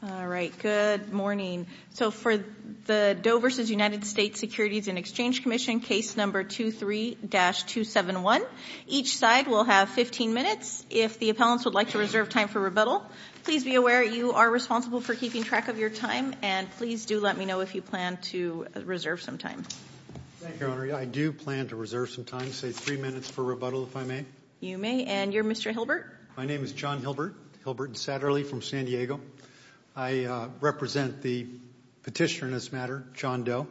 All right, good morning. So for the Doe v. United States Securities and Exchange Commission, case number 23-271. Each side will have 15 minutes. If the appellants would like to reserve time for rebuttal, please be aware you are responsible for keeping track of your time and please do let me know if you plan to reserve some time. I do plan to reserve some time, say three minutes for rebuttal if I may. You may, and you're Mr. Hilbert? My name is John Hilbert, Hilbert Satterly from San Diego. I represent the petitioner in this matter, John Doe.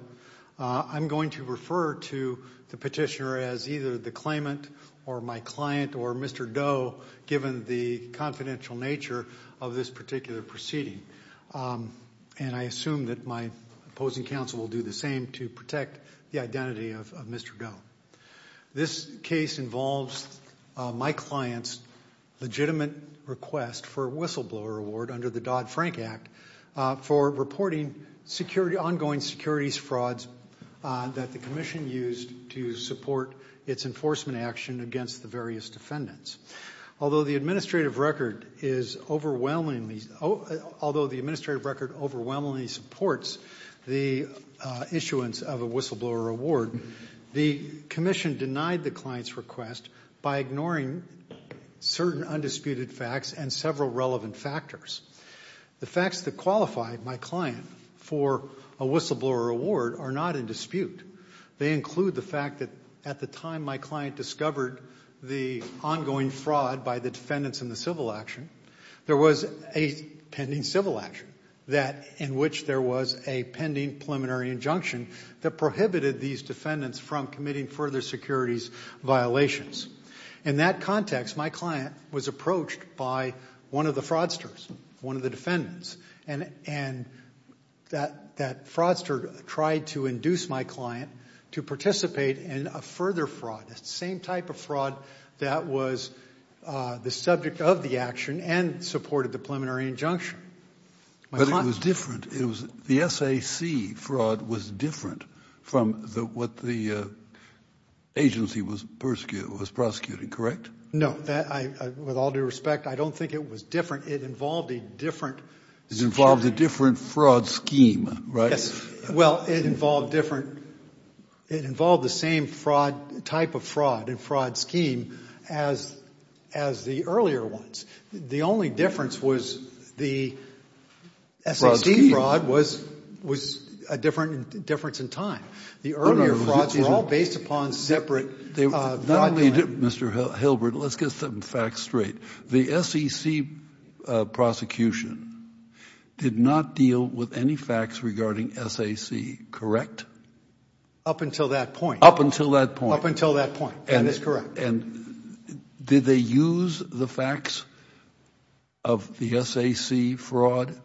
I'm going to refer to the petitioner as either the claimant or my client or Mr. Doe, given the confidential nature of this particular proceeding, and I assume that my opposing counsel will do the same to protect the identity of Mr. Doe. This case involves my client's legitimate request for a whistleblower award under the Dodd-Frank Act for reporting security, ongoing securities frauds that the Commission used to support its enforcement action against the various defendants. Although the administrative record is overwhelmingly, although the administrative record overwhelmingly supports the issuance of a whistleblower award, the Commission denied the client's request by ignoring certain undisputed facts and several relevant factors. The facts that qualify my client for a whistleblower award are not in dispute. They include the fact that at the time my client discovered the ongoing fraud by the defendants in the civil action, there was a pending civil action that in which there was a pending preliminary injunction that prohibited these defendants from committing further securities violations. In that context, my client was approached by one of the fraudsters, one of the defendants, and that fraudster tried to induce my client to participate in a further fraud, the same type of fraud that was the subject of the action and supported the preliminary injunction. But it was different. The SAC fraud was different from what the agency was prosecuting, correct? No, with all due respect, I don't think it was different. It involved a different... It involved a different fraud scheme, right? Well, it involved different, it involved the same type of fraud and fraud scheme as the earlier ones. The only difference was the SAC fraud was a different difference in time. The earlier frauds were all based upon separate fraud... Not only did Mr. Hilbert, let's get some facts straight. The SEC prosecution did not deal with any facts regarding SAC, correct? Up until that point. Up until that point. Up until that point, and it's correct. And did they use the facts of the SAC fraud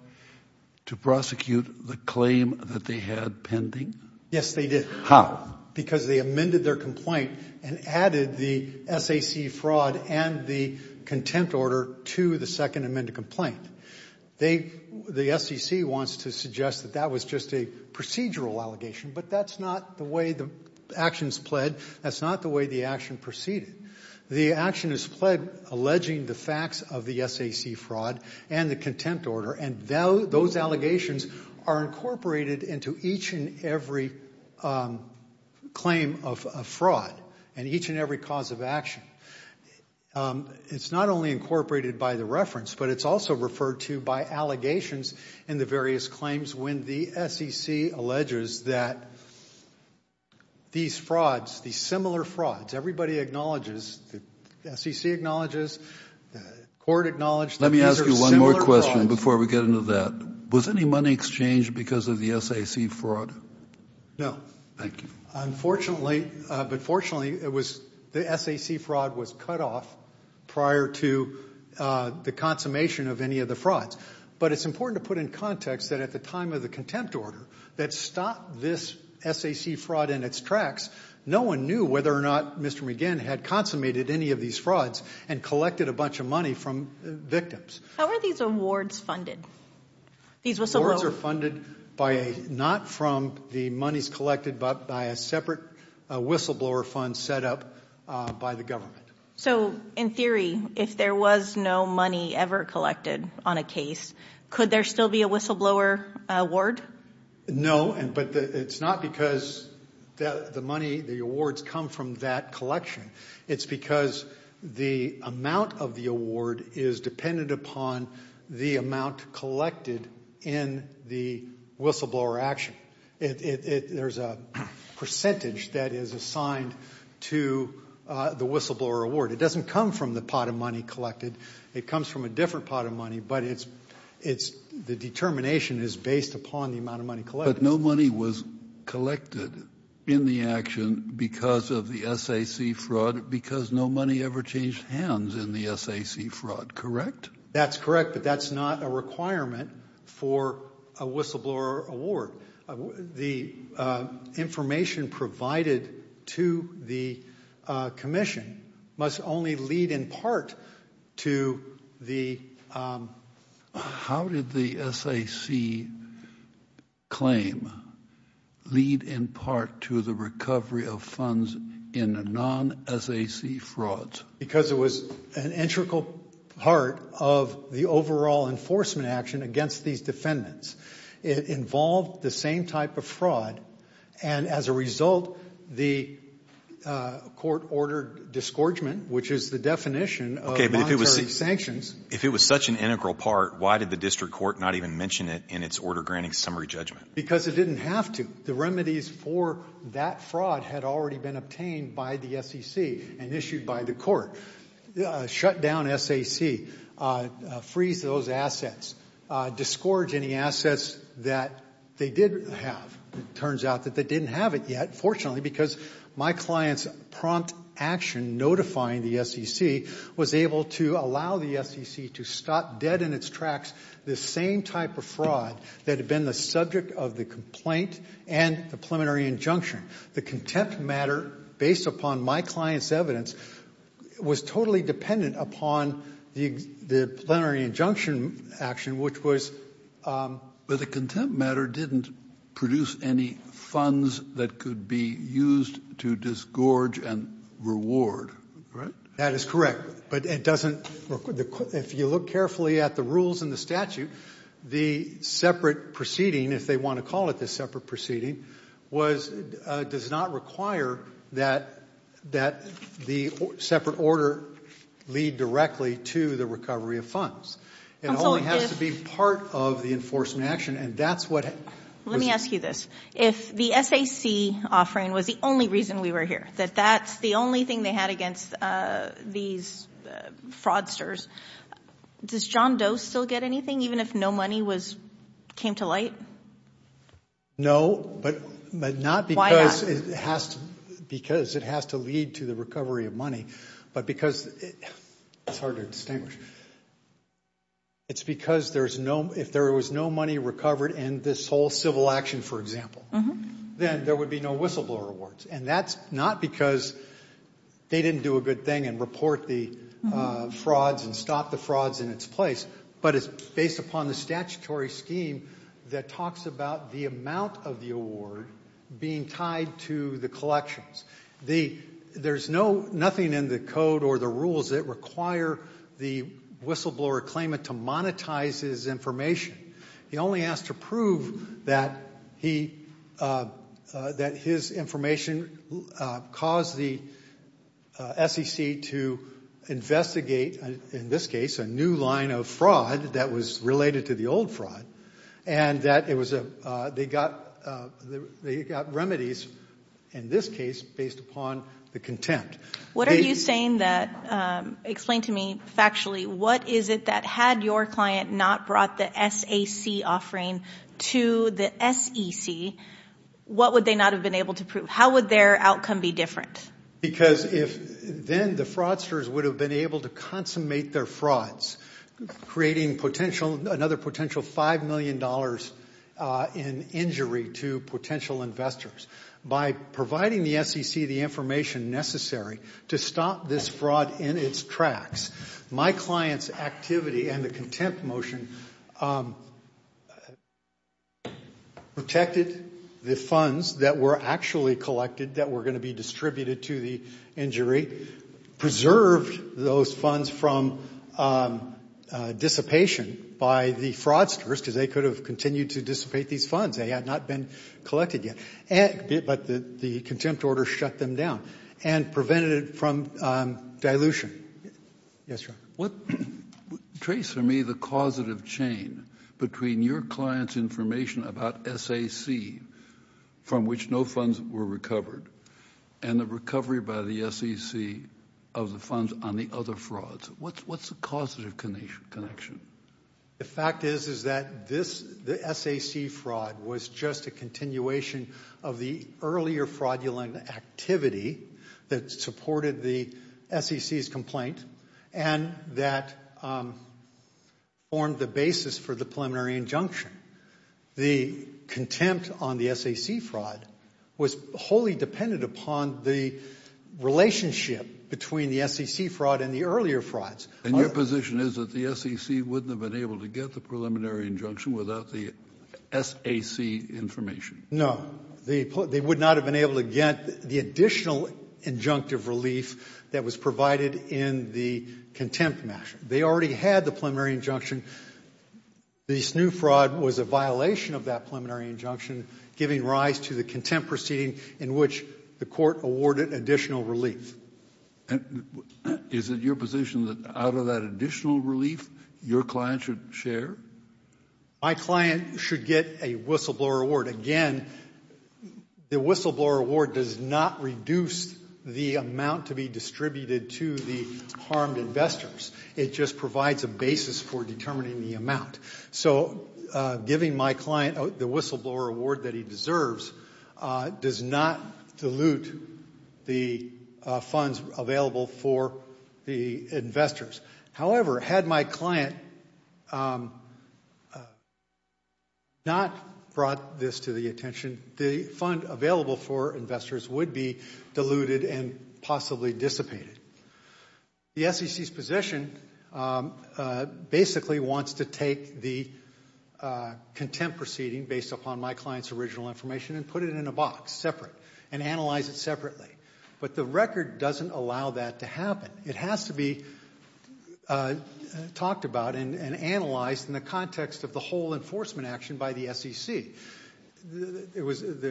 to prosecute the claim that they had pending? Yes, they did. How? Because they amended their complaint and added the SAC fraud and the contempt order to the second amended complaint. They, the SEC wants to suggest that that was just a procedural allegation, but that's not the way the actions pled. That's not the way the action proceeded. The action is pled alleging the facts of the SAC fraud and the contempt order, and those allegations are incorporated into each and every claim of fraud and each and every cause of action. It's not only incorporated by the reference, but it's also referred to by allegations in the various claims when the SEC alleges that these frauds, these similar frauds, everybody acknowledges, the SEC acknowledges, the court acknowledged. Let me ask you one more question before we get into that. Was any money exchanged because of the SAC fraud? No. Thank you. Unfortunately, but fortunately it was the SAC fraud was cut off prior to the consummation of any of the frauds, but it's important to put in context that at the time of the contempt order that stopped this SAC fraud in its tracks, no one knew whether or not Mr. McGinn had consummated any of these frauds and collected a bunch of money from victims. How are these awards funded? These whistleblowers are funded by a, not from the monies collected, but by a separate whistleblower fund set up by the government. So in theory, if there was no money ever collected on a case, could there still be a whistleblower award? No, but it's not because the money, the awards come from that collection. It's because the amount of the award is dependent upon the amount collected in the whistleblower action. There's a percentage that is assigned to the whistleblower award. It doesn't come from the pot of money collected. It comes from a different pot of money, but it's, it's, the determination is based upon the amount of money collected. But no money was collected in the action because of the SAC fraud because no money ever changed hands in the SAC fraud, correct? That's correct, but that's not a requirement for a whistleblower award. The information provided to the Commission must only lead in part to the, how did the SAC claim lead in part to the recovery of funds in a non-SAC fraud? Because it was an integral part of the overall enforcement action against these defendants. It involved the same type of fraud, and as a result, the court ordered disgorgement, which is the definition of monetary sanctions. If it was such an integral part, why did the district court not even mention it in its order granting summary judgment? Because it didn't have to. The remedies for that fraud had already been obtained by the SEC and issued by the court. Shut down SAC, freeze those assets, disgorge any assets that they did have. Turns out that they didn't have it yet, fortunately, because my client's prompt action notifying the SEC was able to allow the SEC to stop dead in its tracks the same type of fraud that had been the subject of the complaint and the preliminary injunction. The contempt matter, based upon my client's evidence, was totally dependent upon the plenary injunction action, which was... But the contempt matter didn't produce any funds that could be used to disgorge and reward, right? That is correct, but it doesn't... if you look carefully at the rules in the statute, the separate proceeding, if they want to call it this a proceeding, does not require that the separate order lead directly to the recovery of funds. It only has to be part of the enforcement action and that's what... Let me ask you this. If the SAC offering was the only reason we were here, that that's the only thing they had against these fraudsters, does John Doe still get anything even if no money came to light? No, but not because it has to lead to the recovery of money, but because... it's hard to distinguish... it's because there's no... if there was no money recovered in this whole civil action, for example, then there would be no whistleblower awards and that's not because they didn't do a based upon the statutory scheme that talks about the amount of the award being tied to the collections. There's no... nothing in the code or the rules that require the whistleblower claimant to monetize his information. He only asked to prove that he... that his information caused the SEC to investigate, in this case, a new line of fraud that was related to the old fraud and that it was a... they got... they got remedies, in this case, based upon the contempt. What are you saying that... explain to me factually what is it that had your client not brought the SAC offering to the SEC, what would they not have been able to prove? How would their outcome be different? Because if... then the fraudsters would have been able to consummate their frauds, creating potential... another potential five million dollars in injury to potential investors. By providing the SEC the information necessary to stop this fraud in its tracks, my client's activity and the contempt motion protected the funds that were actually collected, that were most funds, from dissipation by the fraudsters, because they could have continued to dissipate these funds. They had not been collected yet, but the contempt order shut them down and prevented it from dilution. Yes, sir. What... trace for me the causative chain between your client's information about SAC, from which no funds were recovered, and the recovery by the SEC of the funds on the other frauds. What's the causative connection? The fact is, is that this... the SAC fraud was just a continuation of the earlier fraudulent activity that supported the SEC's complaint, and that formed the basis for the preliminary injunction. The contempt on the SAC fraud was wholly dependent upon the relationship between the SEC fraud and the earlier frauds. And your position is that the SEC wouldn't have been able to get the preliminary injunction without the SAC information? No. They would not have been able to get the additional injunctive relief that was provided in the contempt measure. They already had the preliminary injunction. This new fraud was a violation of that preliminary injunction, giving rise to the contempt proceeding in which the court awarded additional relief. Is it your position that out of that additional relief, your client should share? My client should get a whistleblower award. Again, the whistleblower award does not reduce the amount to be distributed to the harmed investors. It just provides a basis for determining the amount. So giving my client the whistleblower award that he deserves does not dilute the funds available for the investors. However, had my client not brought this to the attention, the fund available for investors would be diluted and possibly dissipated. The SEC's position basically wants to take the contempt proceeding based upon my client's original information and put it in a box separate and analyze it separately. But the record doesn't allow that to happen. It has to be talked about and analyzed in the context of the whole enforcement action by the SEC. There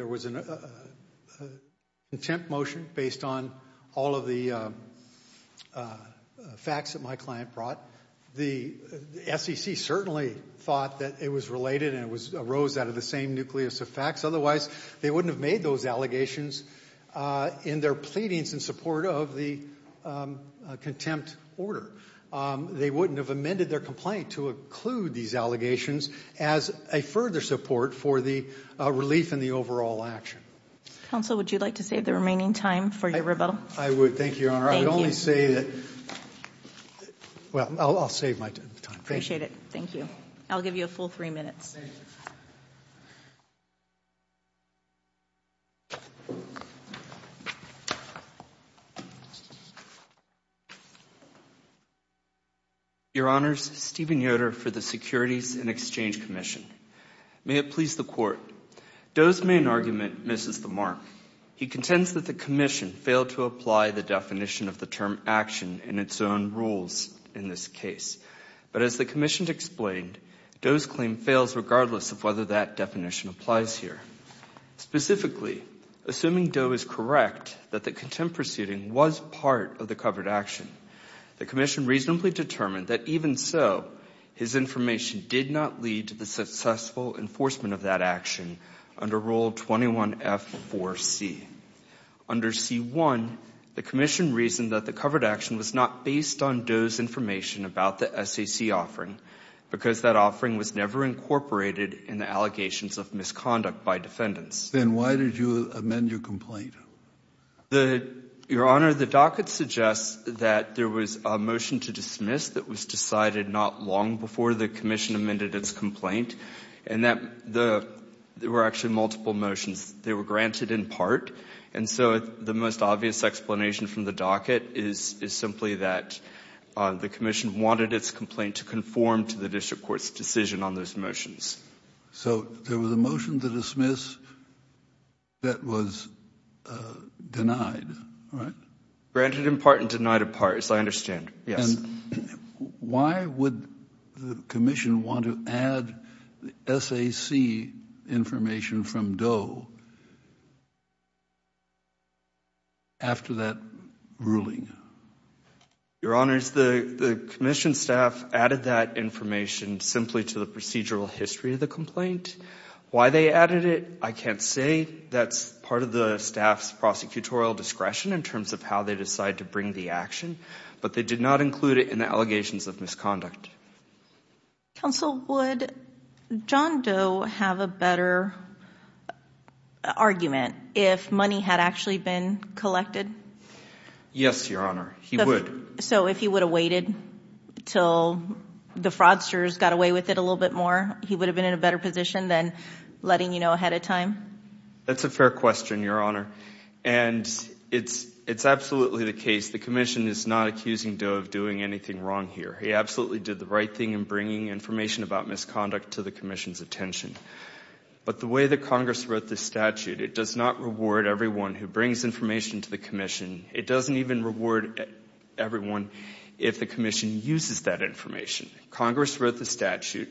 was an contempt motion based on all of the facts that my client brought. The SEC certainly thought that it was related and it arose out of the same nucleus of facts. Otherwise, they wouldn't have made those allegations in their pleadings in support of the contempt order. They wouldn't have amended their complaint to include these allegations as a further support for the relief and the overall action. Counsel, would you like to save the remaining time for your rebuttal? I would. Thank you, Your Honor. I would only say that... Well, I'll save my time. Appreciate it. Thank you. I'll give you a full three minutes. Your Honors, Steven Yoder for the Securities and Exchange Commission. May it please the Court. Doe's main argument misses the mark. He contends that the Commission failed to apply the definition of the term action in its own case. But as the Commission explained, Doe's claim fails regardless of whether that definition applies here. Specifically, assuming Doe is correct that the contempt proceeding was part of the covered action, the Commission reasonably determined that even so, his information did not lead to the successful enforcement of that action under Rule 21F4C. Under C1, the Commission reasoned that the covered action was not based on Doe's information about the SAC offering because that offering was never incorporated in the allegations of misconduct by defendants. Then why did you amend your complaint? Your Honor, the docket suggests that there was a motion to dismiss that was decided not long before the Commission amended its complaint, and that there were actually multiple motions. They were granted in part, and so the most obvious explanation from the docket is simply that the Commission wanted its complaint to conform to the District Court's decision on those motions. So there was a motion to dismiss that was denied, right? Granted in part and denied apart, as I understand. Yes. Why would the Commission want to add the SAC information from Doe after that ruling? Your Honor, the Commission staff added that information simply to the procedural history of the complaint. Why they added it, I can't say. That's part of the staff's prosecutorial discretion in terms of how they decide to bring the action, but they did not include it in the allegations of misconduct. Counsel, would John Doe have a better argument if money had actually been collected? Yes, Your Honor, he would. So if he would have waited till the fraudsters got away with it a little bit more, he would have been in a better position than letting you know ahead of time? That's a fair question, Your Honor, and it's absolutely the case. The Commission is not accusing Doe of doing anything wrong here. He absolutely did the right thing in bringing information about misconduct to the Commission's attention. But the way that Congress wrote this statute, it does not reward everyone who brings information to the Commission. It doesn't even reward everyone if the Commission uses that information. Congress wrote the statute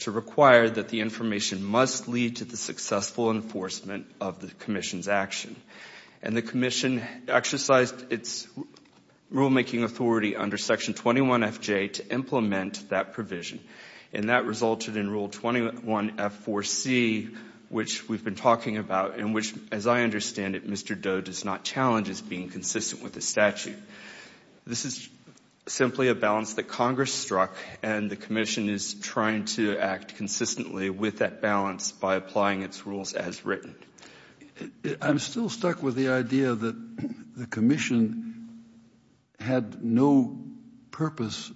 to require that the information must lead to the successful enforcement of the Commission's action, and the Commission exercised its rulemaking authority under Section 21FJ to implement that provision, and that resulted in Rule 21F4C, which we've been talking about and which, as I understand it, Mr. Doe does not challenge as being consistent with the statute. This is simply a balance that Congress struck and the Commission is trying to act consistently with that balance by applying its rules as written. I'm still stuck with the idea that the Commission had no purpose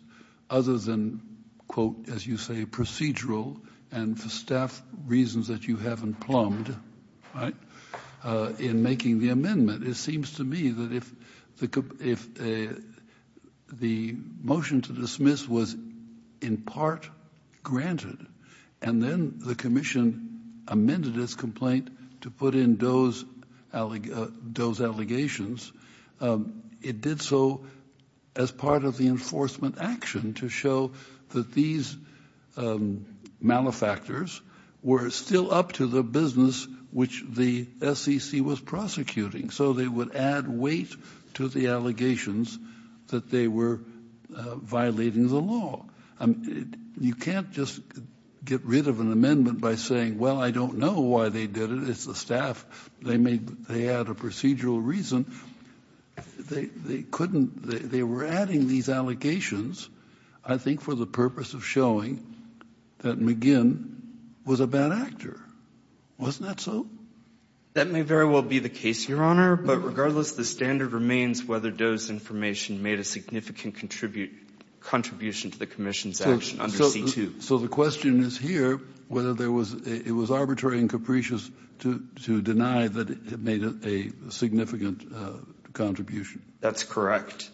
other than, quote, as you say, procedural and for staff reasons that you haven't plumbed, right, in making the amendment. It seems to me that if the motion to dismiss was in part granted and then the Commission amended its complaint to put in Doe's allegations, it did so as part of the enforcement action to show that these malefactors were still up to the business which the SEC was prosecuting. So they would add weight to the allegations that they were violating the law. You can't just get rid of an amendment by saying, well, I don't know why they did it, it's the staff, they had a procedural reason. They couldn't, they were adding these allegations, I think, for the purpose of showing that McGinn was a bad actor. Wasn't that so? That may very well be the case, Your Honor, but regardless the standard remains whether Doe's information made a significant contribution to the Commission's action under C-2. So the question is here whether it was arbitrary and capricious to deny that it made a significant contribution. That's correct,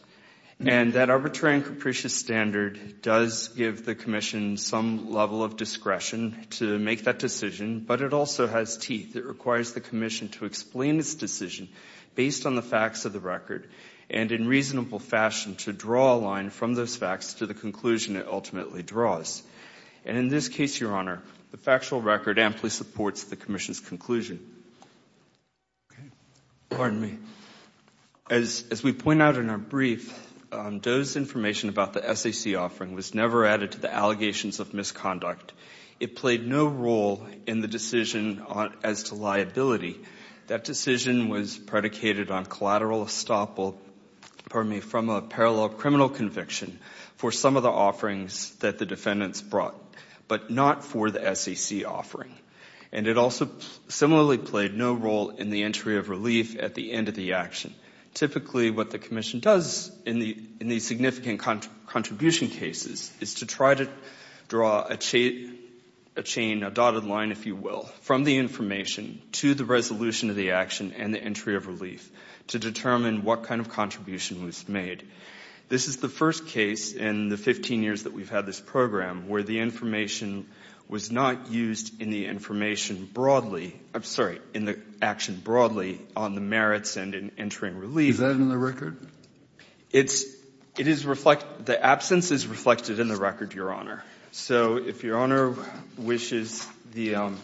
and that arbitrary and capricious standard does give the Commission some level of discretion to make that decision, but it also has teeth. It requires the Commission to explain its decision based on the facts of the record and in reasonable fashion to draw a line from those facts to the conclusion it ultimately draws. And in this case, Your Honor, the factual record amply supports the Commission's conclusion. As we point out in our brief, Doe's information about the SEC offering was never added to the allegations of misconduct. It played no role in the decision as to liability. That decision was predicated on collateral estoppel from a parallel criminal conviction for some of the offerings that the defendants brought, but not for the SEC offering. And it also similarly played no role in the entry of relief at the end of the action. Typically what the Commission does in these significant contribution cases is to try to draw a chain, a dotted line, if you will, from the information to the resolution of the action and the entry of relief to determine what kind of contribution was made. This is the first case in the 15 years that we've had this program where the information was not used in the information broadly, I'm sorry, in the action broadly on the merits and in entering relief. Is that in the record? The absence is reflected in the record, Your Honor. So if Your Honor wishes, I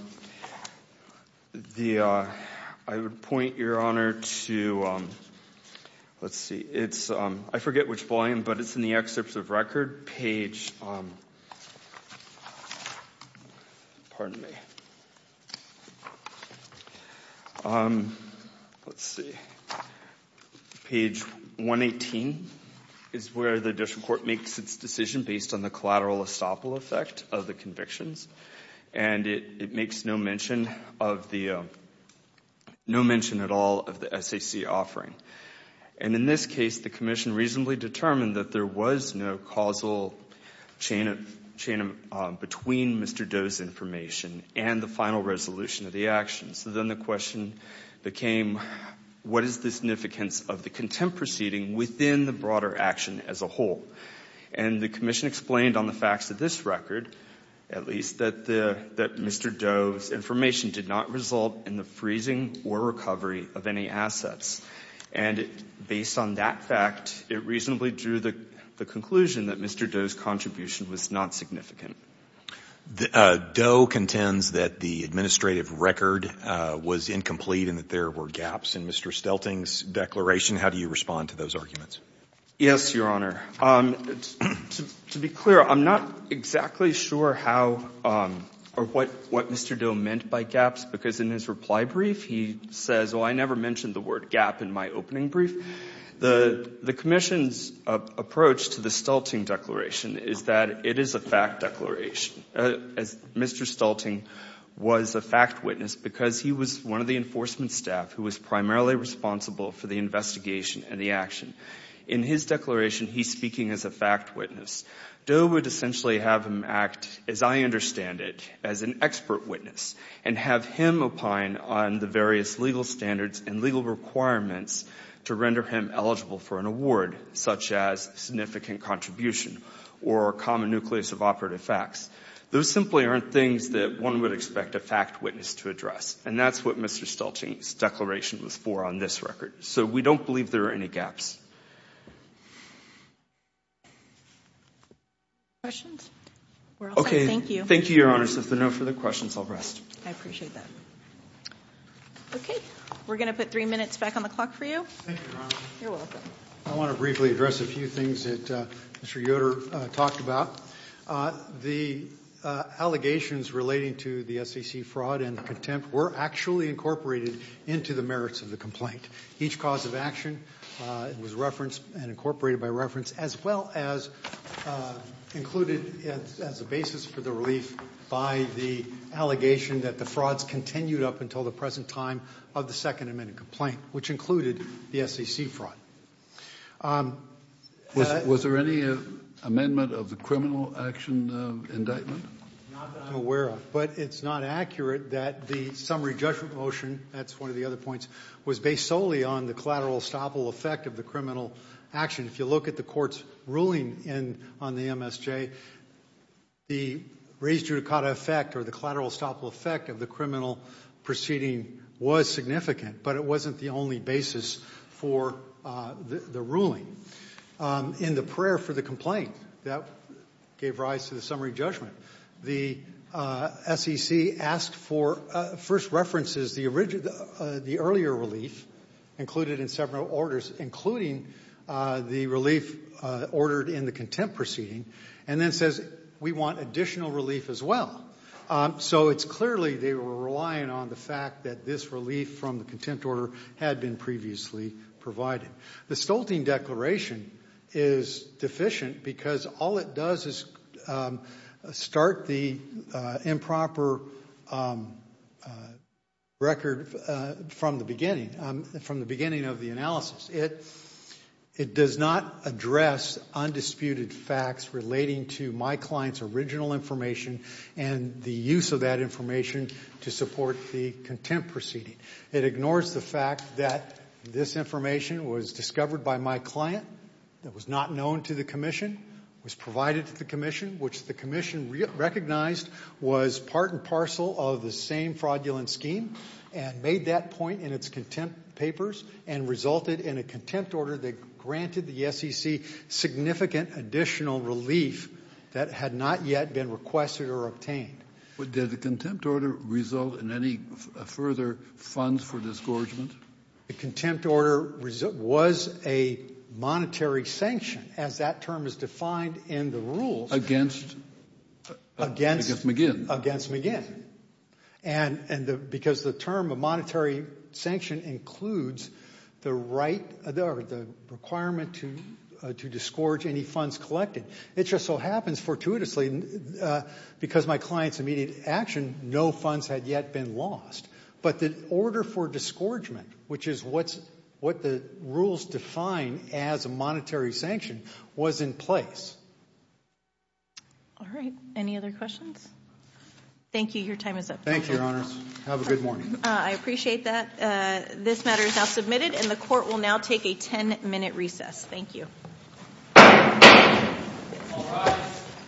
would point Your Honor to, let's see, it's, I forget which volume, but it's in the excerpts of record page, pardon me, let's see, page 118 is where the District Court makes its decision based on the collateral estoppel effect of the convictions, and it makes no mention of the, no mention at all of the SEC offering. And in this case the Commission reasonably determined that there was no causal chain between Mr. Doe's final resolution of the action. So then the question became, what is the significance of the contempt proceeding within the broader action as a whole? And the Commission explained on the facts of this record, at least, that Mr. Doe's information did not result in the freezing or recovery of any assets. And based on that fact, it reasonably drew the conclusion that Mr. Doe's administrative record was incomplete and that there were gaps in Mr. Stelting's declaration. How do you respond to those arguments? Yes, Your Honor. To be clear, I'm not exactly sure how or what Mr. Doe meant by gaps, because in his reply brief he says, well, I never mentioned the word gap in my opening brief. The Commission's approach to the Stelting declaration is that it is a fact witness, because he was one of the enforcement staff who was primarily responsible for the investigation and the action. In his declaration he's speaking as a fact witness. Doe would essentially have him act, as I understand it, as an expert witness and have him opine on the various legal standards and legal requirements to render him eligible for an award, such as significant contribution or common nucleus of operative facts. Those simply aren't things that one would expect a fact witness to address, and that's what Mr. Stelting's declaration was for on this record. So we don't believe there are any gaps. Okay, thank you, Your Honor. So if there are no further questions, I'll rest. I appreciate that. Okay, we're gonna put three minutes back on the clock for you. I want to briefly address a few things that Mr. Yoder talked about. The allegations relating to the SEC fraud and contempt were actually incorporated into the merits of the complaint. Each cause of action was referenced and incorporated by reference, as well as included as a basis for the relief by the allegation that the frauds continued up until the present time of the second amendment complaint, which included the SEC fraud. Was there any amendment of the criminal action indictment? Not that I'm aware of, but it's not accurate that the summary judgment motion, that's one of the other points, was based solely on the collateral estoppel effect of the criminal action. If you look at the court's ruling on the MSJ, the raised judicata effect or the collateral estoppel effect of the criminal proceeding was significant, but it wasn't the only basis for the ruling. In the prayer for the complaint, that gave rise to the summary judgment. The SEC asked for first references, the earlier relief included in several orders, including the relief ordered in the contempt proceeding, and then says we want additional relief as well. So it's clearly they were relying on the fact that this relief from the contempt order had been previously provided. The Stolting Declaration is deficient because all it does is start the improper record from the beginning, from the beginning of the analysis. It does not address undisputed facts relating to my client's original information and the use of that information to support the contempt proceeding. It ignores the fact that this information was discovered by my client, that was not known to the Commission, was provided to the Commission, which the Commission recognized was part and parcel of the same fraudulent scheme, and made that point in its contempt papers, and resulted in a contempt order that granted the SEC significant additional relief that had not yet been requested or obtained. But did the contempt order result in any further funds for disgorgement? The contempt order was a monetary sanction, as that term is defined in the rules. Against McGinn. Against McGinn, and because the term of monetary sanction includes the right, the requirement to to disgorge any funds collected. It just so happens fortuitously, because my client's immediate action, no funds had yet been lost. But the order for disgorgement, which is what's what the rules define as a monetary sanction, was in place. All right, any other questions? Thank you, your time is up. Thank you, Your Honors. Have a good morning. I appreciate that. This matter is now submitted, and the court will now take a 10-minute recess. Thank you.